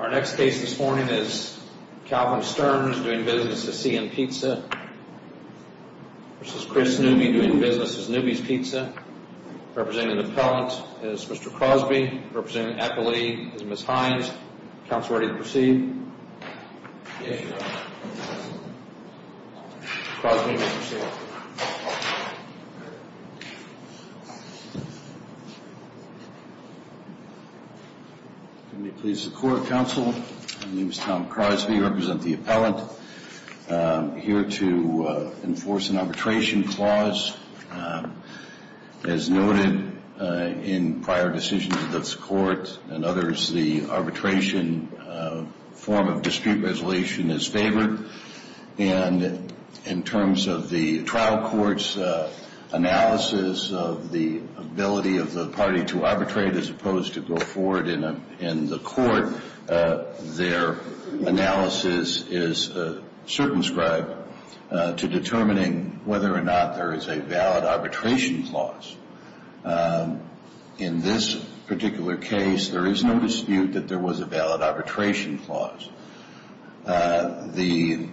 Our next case this morning is Calvin Stearns doing business as CN Pizza v. Chris Newby doing business as Newby's Pizza. Representing the appellant is Mr. Crosby. Representing the appellate is Ms. Hines. Counselor, are you ready to proceed? Yes, Your Honor. Mr. Crosby, you may proceed. Mr. Crosby, you may proceed. Can we please have the court of counsel? My name is Tom Crosby. I represent the appellant. I'm here to enforce an arbitration clause. As noted in prior decisions of this court and others, the arbitration form of dispute resolution is favored. And in terms of the trial court's analysis of the ability of the party to arbitrate as opposed to go forward in the court, their analysis is circumscribed to determining whether or not there is a valid arbitration clause. In this particular case, there is no dispute that there was a valid arbitration clause. The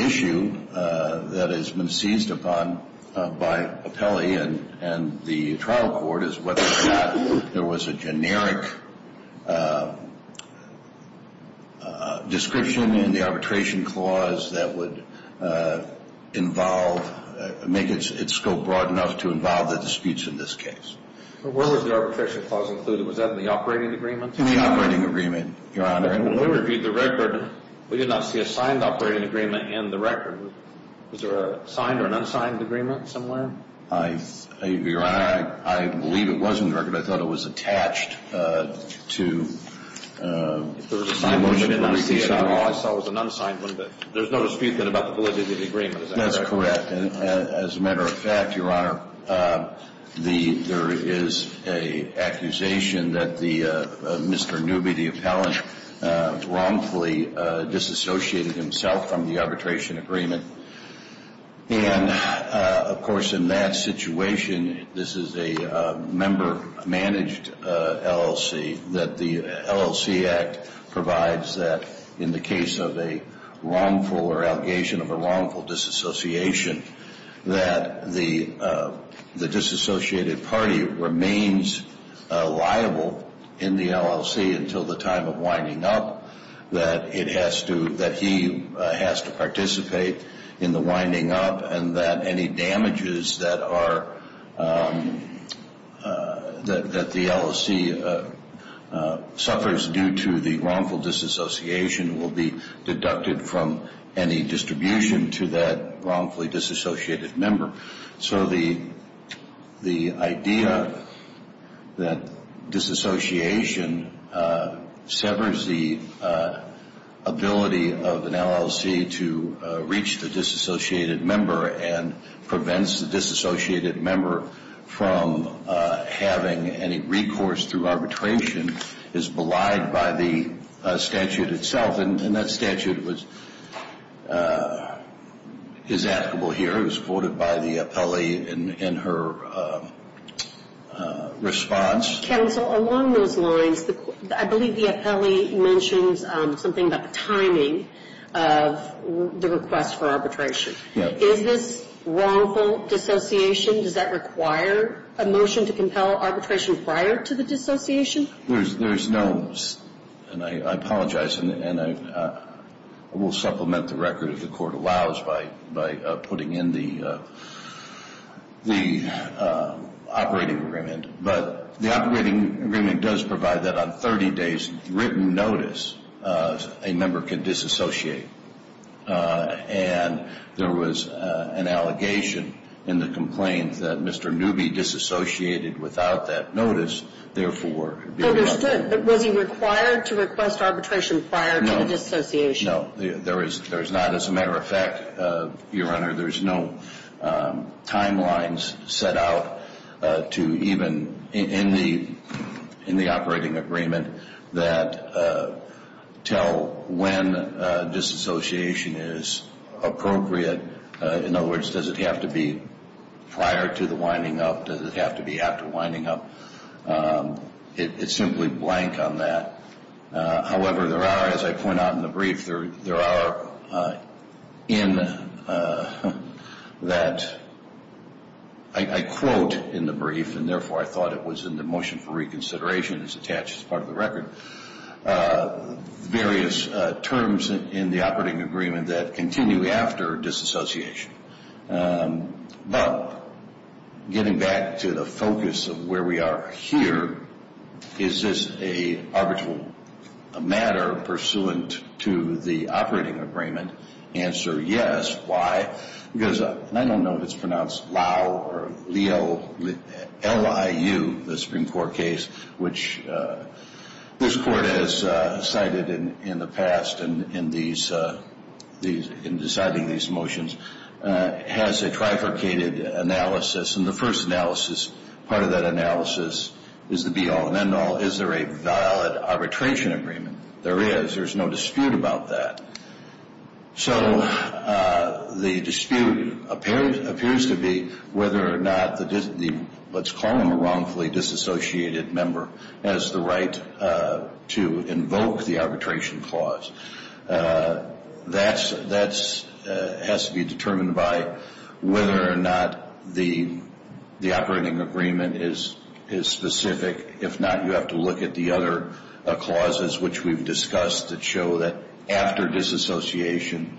issue that has been seized upon by appellee and the trial court is whether or not there was a generic description in the arbitration clause that would involve, make its scope broad enough to involve the disputes in this case. Where was the arbitration clause included? Was that in the operating agreement? In the operating agreement, Your Honor. When we reviewed the record, we did not see a signed operating agreement in the record. Was there a signed or an unsigned agreement somewhere? Your Honor, I believe it was in the record. I thought it was attached to the motion. If there was a signed agreement, I didn't see it at all. I saw it was an unsigned one. But there's no dispute then about the validity of the agreement, is that correct? That's correct. As a matter of fact, Your Honor, there is an accusation that Mr. Newby, the appellant, wrongfully disassociated himself from the arbitration agreement. And, of course, in that situation, this is a member-managed LLC, that the LLC Act provides that in the case of a wrongful or allegation of a wrongful disassociation, that the disassociated party remains liable in the LLC until the time of winding up, that it has to, that he has to participate in the winding up, and that any damages that are, that the LLC suffers due to the wrongful disassociation will be deducted from any distribution to that wrongfully disassociated member. So the idea that disassociation severs the ability of an LLC to reach the disassociated member and prevents the disassociated member from having any recourse through arbitration is belied by the statute itself. And that statute was, is applicable here. It was voted by the appellee in her response. Counsel, along those lines, I believe the appellee mentions something about the timing of the request for arbitration. Is this wrongful dissociation? Does that require a motion to compel arbitration prior to the dissociation? There's no, and I apologize, and I will supplement the record if the Court allows by putting in the operating agreement. But the operating agreement does provide that on 30 days' written notice, a member can disassociate. And there was an allegation in the complaint that Mr. Newby disassociated without that notice, therefore, it would be deducted. Understood. But was he required to request arbitration prior to the dissociation? No. No. There is not. As a matter of fact, Your Honor, there's no timelines set out to even, in the operating agreement, that tell when disassociation is appropriate. In other words, does it have to be prior to the winding up? Does it have to be after winding up? It's simply blank on that. However, there are, as I point out in the brief, there are in that, I quote in the brief, and therefore I thought it was in the motion for reconsideration, it's attached as part of the record, various terms in the operating agreement that continue after disassociation. But getting back to the focus of where we are here, is this an arbitral matter pursuant to the operating agreement? The answer, yes. Why? Because I don't know if it's pronounced Lau or Liu, the Supreme Court case, which this Court has cited in the past in deciding these motions, has a trifurcated analysis. And the first analysis, part of that analysis, is the be-all and end-all. Is there a valid arbitration agreement? There is. There's no dispute about that. So the dispute appears to be whether or not the, let's call him a wrongfully disassociated member, has the right to invoke the arbitration clause. That has to be determined by whether or not the operating agreement is specific. If not, you have to look at the other clauses which we've discussed that show that after disassociation,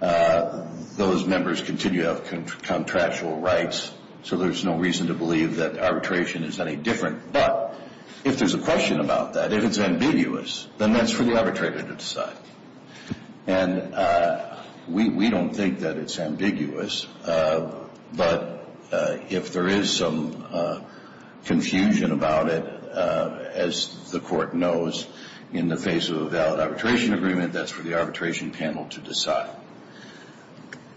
those members continue to have contractual rights, so there's no reason to believe that arbitration is any different. But if there's a question about that, if it's ambiguous, then that's for the arbitrator to decide. And we don't think that it's ambiguous, but if there is some confusion about it, as the Court knows, in the face of a valid arbitration agreement, that's for the arbitration panel to decide.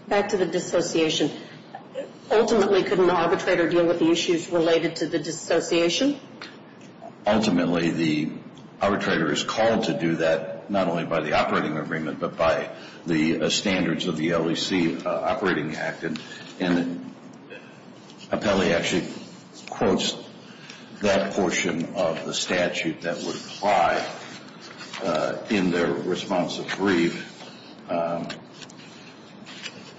Back to the dissociation. Ultimately, could an arbitrator deal with the issues related to the dissociation? Ultimately, the arbitrator is called to do that, not only by the operating agreement, but by the standards of the LEC Operating Act. And Appelli actually quotes that portion of the statute that would apply in their responsive brief. And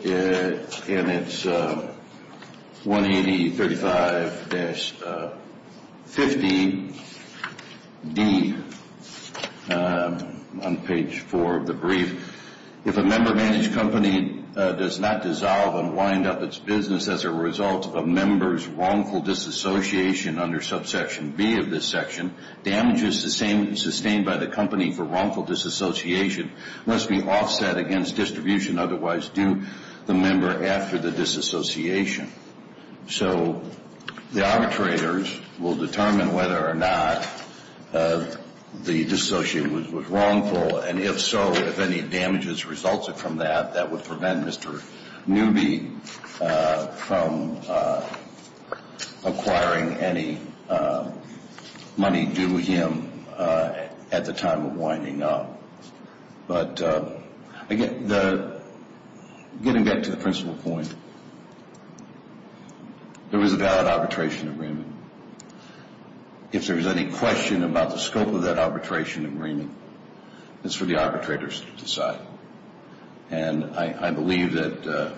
it's 18035-50D on page 4 of the brief. If a member-managed company does not dissolve and wind up its business as a result of a member's wrongful disassociation under subsection B of this section, damages sustained by the company for wrongful disassociation must be offset against distribution otherwise due the member after the disassociation. So the arbitrators will determine whether or not the dissociate was wrongful, and if so, if any damages resulted from that, that would prevent Mr. Newby from acquiring any money due him at the time of winding up. But again, getting back to the principal point, there is a valid arbitration agreement. If there is any question about the scope of that arbitration agreement, it's for the arbitrators to decide. And I believe that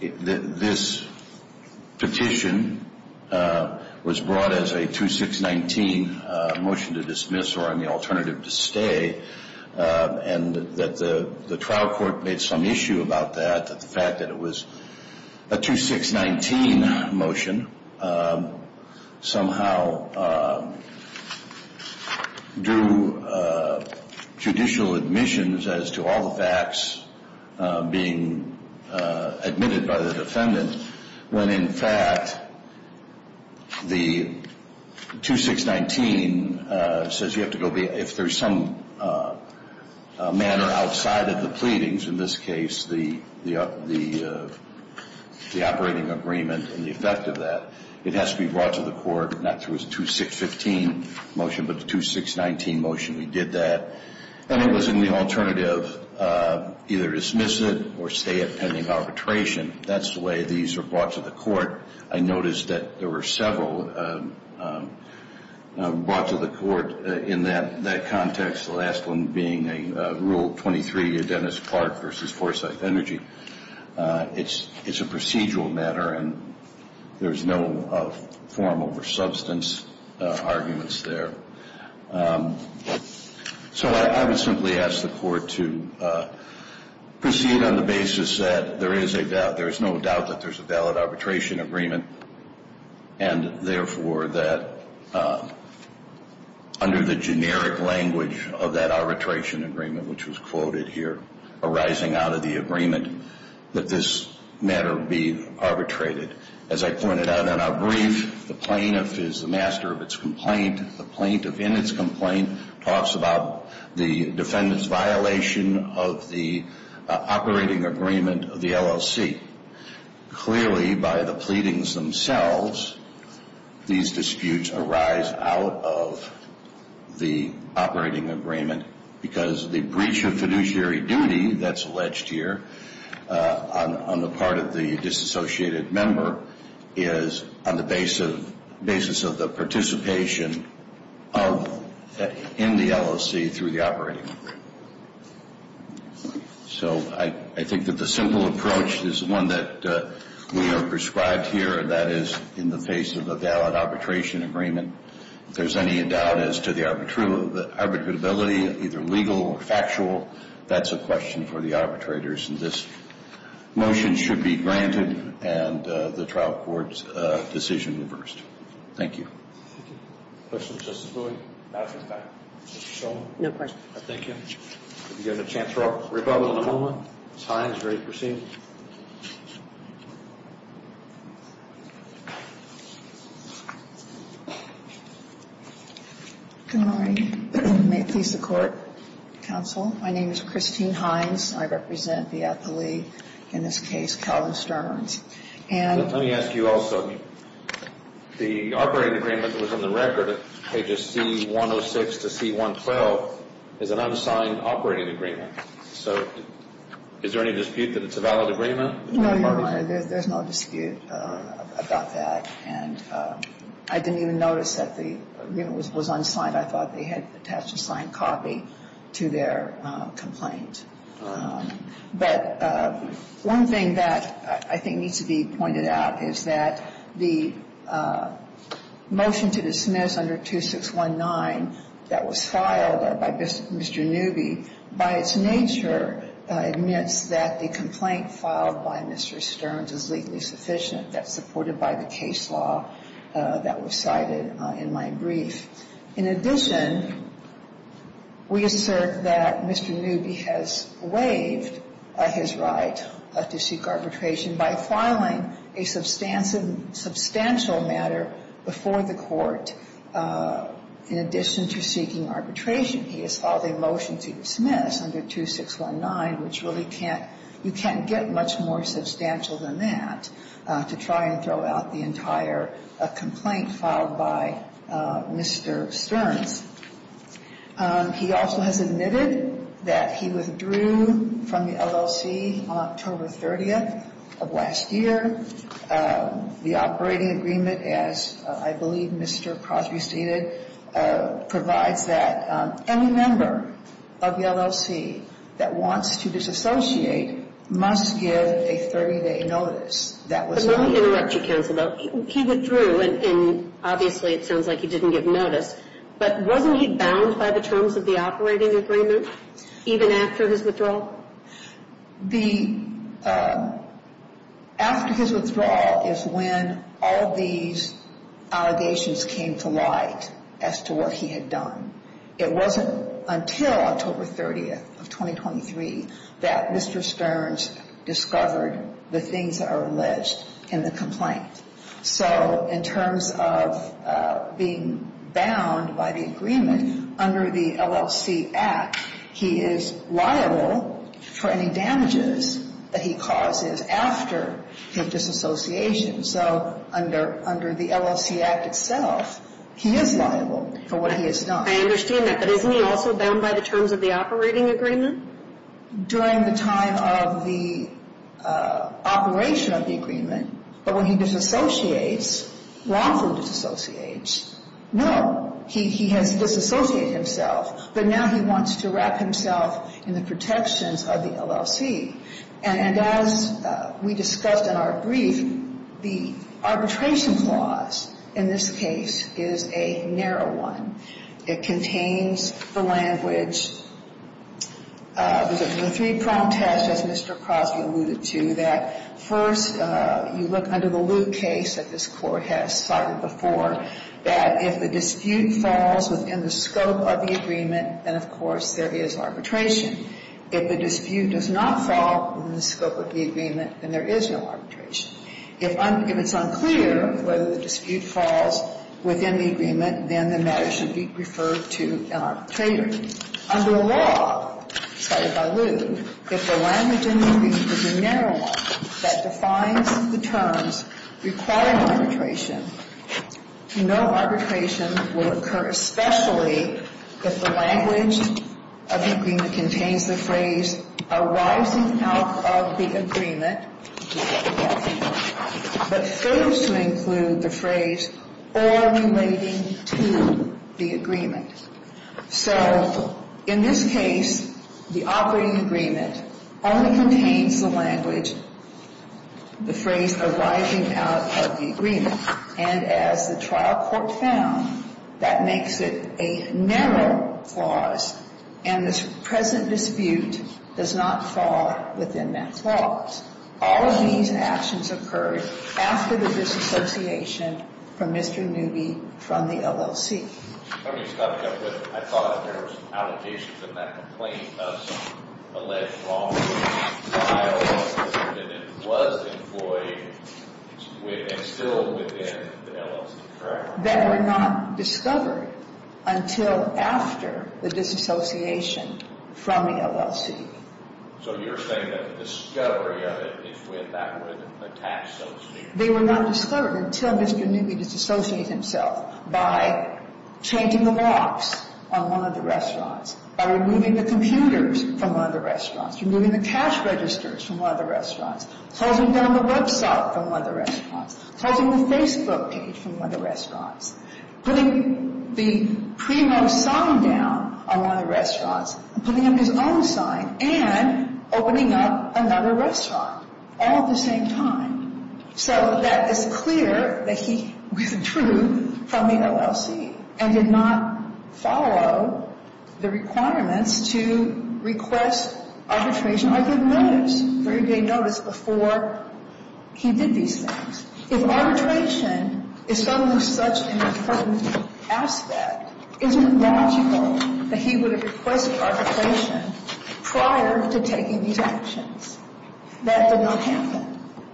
this petition was brought as a 2619 motion to dismiss or on the alternative to stay, and that the trial court made some issue about that, that the fact that it was a 2619 motion somehow drew judicial admissions as to all the facts being admitted by the defendant, when in fact the 2619 says you have to go be, if there's some manner outside of the pleadings, in this case the operating agreement and the effect of that, it has to be brought to the court, not through a 2615 motion, but the 2619 motion. We did that, and it was in the alternative either dismiss it or stay it pending arbitration. That's the way these are brought to the court. I noticed that there were several brought to the court in that context, the last one being Rule 23, Dennis Clark v. Forsyth Energy. It's a procedural matter, and there's no form over substance arguments there. So I would simply ask the court to proceed on the basis that there is a doubt, there is no doubt that there's a valid arbitration agreement, and therefore that under the generic language of that arbitration agreement, which was quoted here arising out of the agreement, that this matter be arbitrated. As I pointed out in our brief, the plaintiff is the master of its complaint. The plaintiff in its complaint talks about the defendant's violation of the operating agreement of the LLC. Clearly by the pleadings themselves, these disputes arise out of the operating agreement because the breach of fiduciary duty that's alleged here on the part of the disassociated member is on the basis of the participation in the LLC through the operating agreement. So I think that the simple approach is the one that we are prescribed here, and that is in the face of a valid arbitration agreement, if there's any doubt as to the arbitrability, either legal or factual, that's a question for the arbitrators. And this motion should be granted, and the trial court's decision reversed. Thank you. Thank you. Questions, Justice Boyd? Not at this time. Mr. Shulman? No questions. Thank you. We have a chance for a rebuttal in a moment. It's high and it's ready to proceed. Good morning. May it please the Court, counsel. My name is Christine Hines. I represent the athlete in this case, Colin Stearns. And let me ask you also, the operating agreement that was on the record at pages C-106 to C-112 is an unsigned operating agreement. So is there any dispute that it's a valid arbitration agreement? No, Your Honor, there's no dispute about that. And I didn't even notice that the agreement was unsigned. I thought they had attached a signed copy to their complaint. But one thing that I think needs to be pointed out is that the motion to dismiss under 2619 that was filed by Mr. Newby, by its nature, admits that the complaint filed by Mr. Stearns is legally sufficient. That's supported by the case law that was cited in my brief. In addition, we assert that Mr. Newby has waived his right to seek arbitration by filing a substantial matter before the Court in addition to seeking arbitration. He has filed a motion to dismiss under 2619, which really can't get much more substantial than that, to try and throw out the entire complaint filed by Mr. Stearns. He also has admitted that he withdrew from the LLC on October 30th of last year. The operating agreement, as I believe Mr. Crosby stated, provides that any member of the LLC that wants to disassociate must give a 30-day notice. But let me interrupt you, counsel, though. He withdrew, and obviously it sounds like he didn't give notice. But wasn't he bound by the terms of the operating agreement even after his withdrawal? After his withdrawal is when all these allegations came to light as to what he had done. It wasn't until October 30th of 2023 that Mr. Stearns discovered the things that are alleged in the complaint. So in terms of being bound by the agreement under the LLC Act, he is liable for any damages that he causes after his disassociation. So under the LLC Act itself, he is liable for what he has done. I understand that. But isn't he also bound by the terms of the operating agreement? During the time of the operation of the agreement. But when he disassociates, lawfully disassociates. No. He has disassociated himself. But now he wants to wrap himself in the protections of the LLC. And as we discussed in our brief, the arbitration clause in this case is a narrow one. It contains the language, the three-pronged test, as Mr. Crosby alluded to, that first you look under the loop case that this Court has cited before, that if the dispute falls within the scope of the agreement, then of course there is arbitration. If the dispute does not fall within the scope of the agreement, then there is no arbitration. If it's unclear whether the dispute falls within the agreement, then the matter should be referred to an arbitrator. Under the law cited by Lew, if the language in the agreement is a narrow one that defines the terms requiring arbitration, no arbitration will occur, especially if the language of the agreement contains the phrase arising out of the agreement. But fails to include the phrase or relating to the agreement. So in this case, the operating agreement only contains the language, the phrase arising out of the agreement. And as the trial court found, that makes it a narrow clause and the present dispute does not fall within that clause. All of these actions occurred after the disassociation from Mr. Newby from the LLC. I thought there was allegations in that complaint of some alleged wrongdoing in the trial that it was employed and still within the LLC, correct? That were not discovered until after the disassociation from the LLC. So you're saying that the discovery of it is when that was attached, so to speak? They were not discovered until Mr. Newby disassociated himself by changing the locks on one of the restaurants, by removing the computers from one of the restaurants, removing the cash registers from one of the restaurants, closing down the website from one of the restaurants, closing the Facebook page from one of the restaurants, putting the Primo sign down on one of the restaurants, putting up his own sign, and opening up another restaurant all at the same time. So that is clear that he withdrew from the LLC and did not follow the requirements to request arbitration or give notice. He gave notice before he did these things. If arbitration is something of such an important aspect, isn't it logical that he would have requested arbitration prior to taking these actions? That did not happen.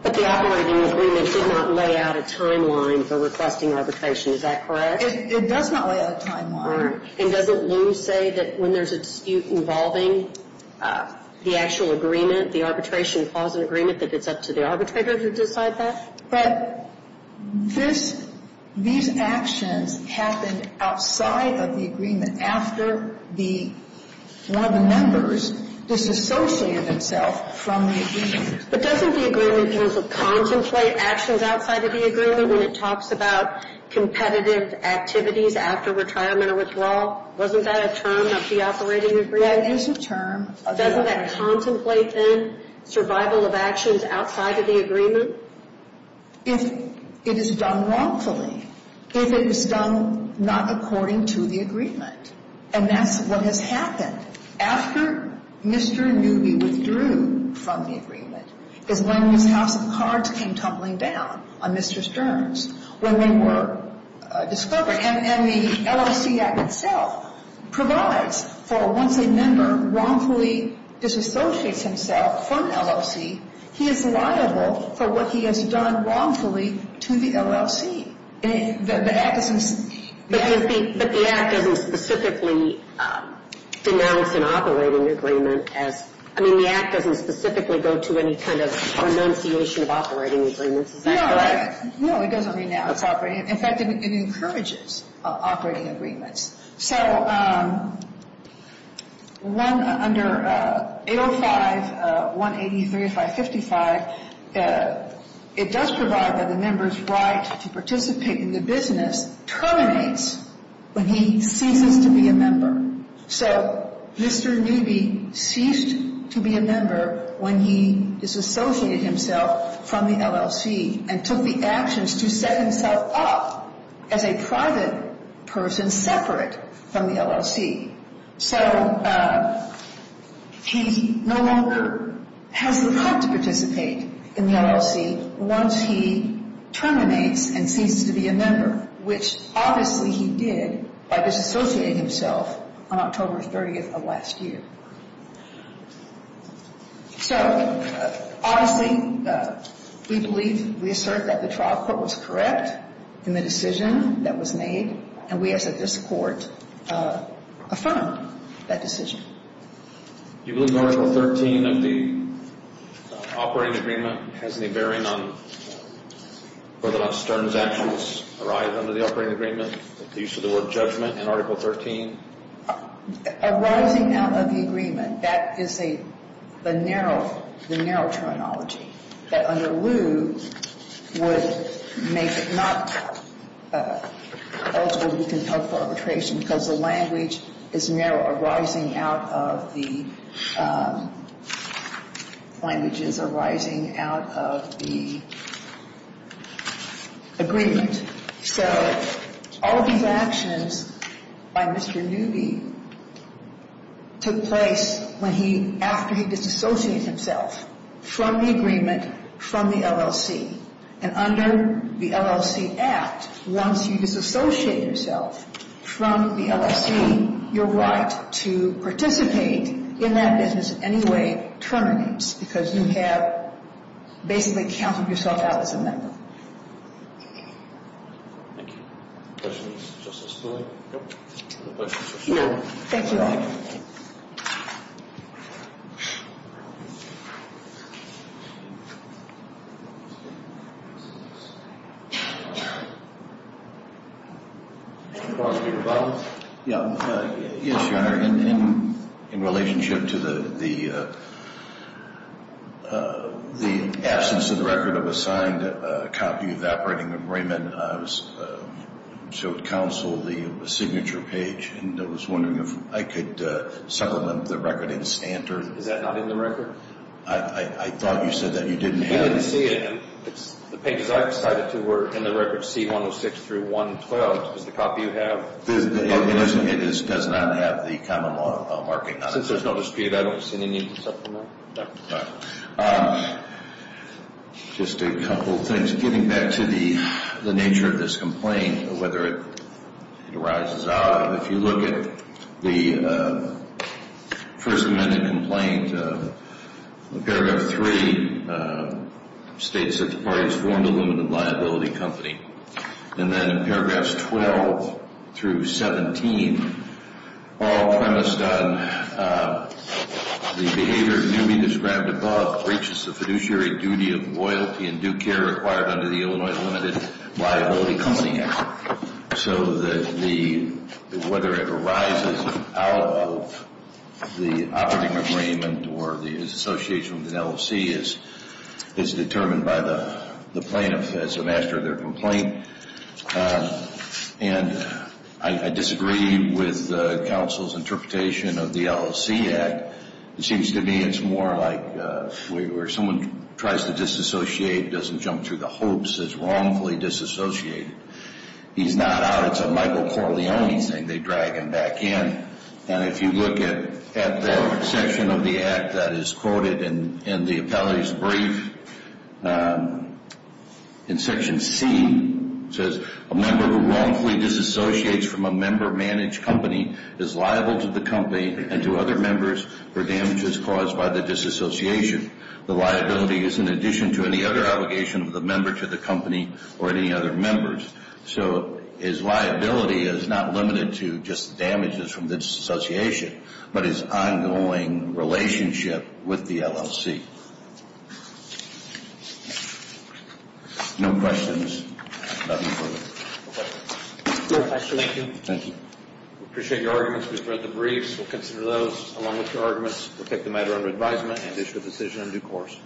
But the operating agreement did not lay out a timeline for requesting arbitration. Is that correct? It does not lay out a timeline. And doesn't Lou say that when there's a dispute involving the actual agreement, the arbitration clause in the agreement, that it's up to the arbitrator to decide that? But these actions happened outside of the agreement after one of the members disassociated himself from the agreement. But doesn't the agreement use a contemplate actions outside of the agreement when it talks about competitive activities after retirement or withdrawal? Wasn't that a term of the operating agreement? It is a term. Doesn't that contemplate, then, survival of actions outside of the agreement? If it is done wrongfully. If it is done not according to the agreement. And that's what has happened. After Mr. Newby withdrew from the agreement is when his house of cards came tumbling down on Mr. Stearns when they were discovered. And the LLC Act itself provides for once a member wrongfully disassociates himself from an LLC, he is liable for what he has done wrongfully to the LLC. But the Act doesn't specifically denounce an operating agreement as, I mean, the Act doesn't specifically go to any kind of renunciation of operating agreements. Is that correct? No, it doesn't renounce operating. In fact, it encourages operating agreements. So under 805-183-555, it does provide that a member's right to participate in the business terminates when he ceases to be a member. So Mr. Newby ceased to be a member when he disassociated himself from the LLC and took the actions to set himself up as a private person separate from the LLC. So he no longer has the right to participate in the LLC once he terminates and ceases to be a member, which obviously he did by disassociating himself on October 30th of last year. So, honestly, we believe, we assert that the trial court was correct in the decision that was made, and we as a district court affirm that decision. Do you believe Article 13 of the operating agreement has any bearing on whether or not Stern's actions arise under the operating agreement, the use of the word judgment in Article 13? Arising out of the agreement. That is a narrow, the narrow terminology. That under Liu would make it not eligible for arbitration because the language is narrow. Arising out of the language is arising out of the agreement. So all of these actions by Mr. Newby took place when he, after he disassociated himself from the agreement, from the LLC, and under the LLC Act, once you disassociate yourself from the LLC, your right to participate in that business in any way terminates because you have basically counted yourself out as a member. Thank you. Questions for Justice Sotomayor? No questions for Sotomayor. Thank you all. Mr. Barnes, do you have a problem? Yeah. Yes, Your Honor. In relationship to the absence of the record of a signed copy of the operating agreement, I showed counsel the signature page and was wondering if I could supplement the record in standard. Is that not in the record? I thought you said that. You didn't have it. We didn't see it. The pages I cited to were in the record C-106 through 112. What about the copy you have? It does not have the common law marking on it. Since there's no dispute, I don't see any need to supplement? No. All right. Just a couple of things. Getting back to the nature of this complaint, whether it arises out, if you look at the first amendment complaint, paragraph 3 states that the parties formed a limited liability company. And then in paragraphs 12 through 17, all premised on the behavior to be described above, breaches the fiduciary duty of loyalty and due care required under the Illinois Limited Liability Company Act. So whether it arises out of the operating agreement or the association with the LOC is determined by the plaintiff as the master of their complaint. And I disagree with counsel's interpretation of the LOC Act. It seems to me it's more like where someone tries to disassociate, doesn't jump to the hopes, is wrongfully disassociated. He's not out. It's a Michael Corleone thing. They drag him back in. And if you look at the section of the act that is quoted in the appellate's brief, in section C, it says a member who wrongfully disassociates from a member-managed company is liable to the company and to other members for damages caused by the disassociation. The liability is in addition to any other obligation of the member to the company or any other members. So his liability is not limited to just damages from disassociation, but his ongoing relationship with the LOC. No questions? Nothing further? No questions. Thank you. Thank you. We appreciate your arguments. We've read the briefs. We'll consider those along with your arguments. We'll take the matter under advisement and issue a decision in due course.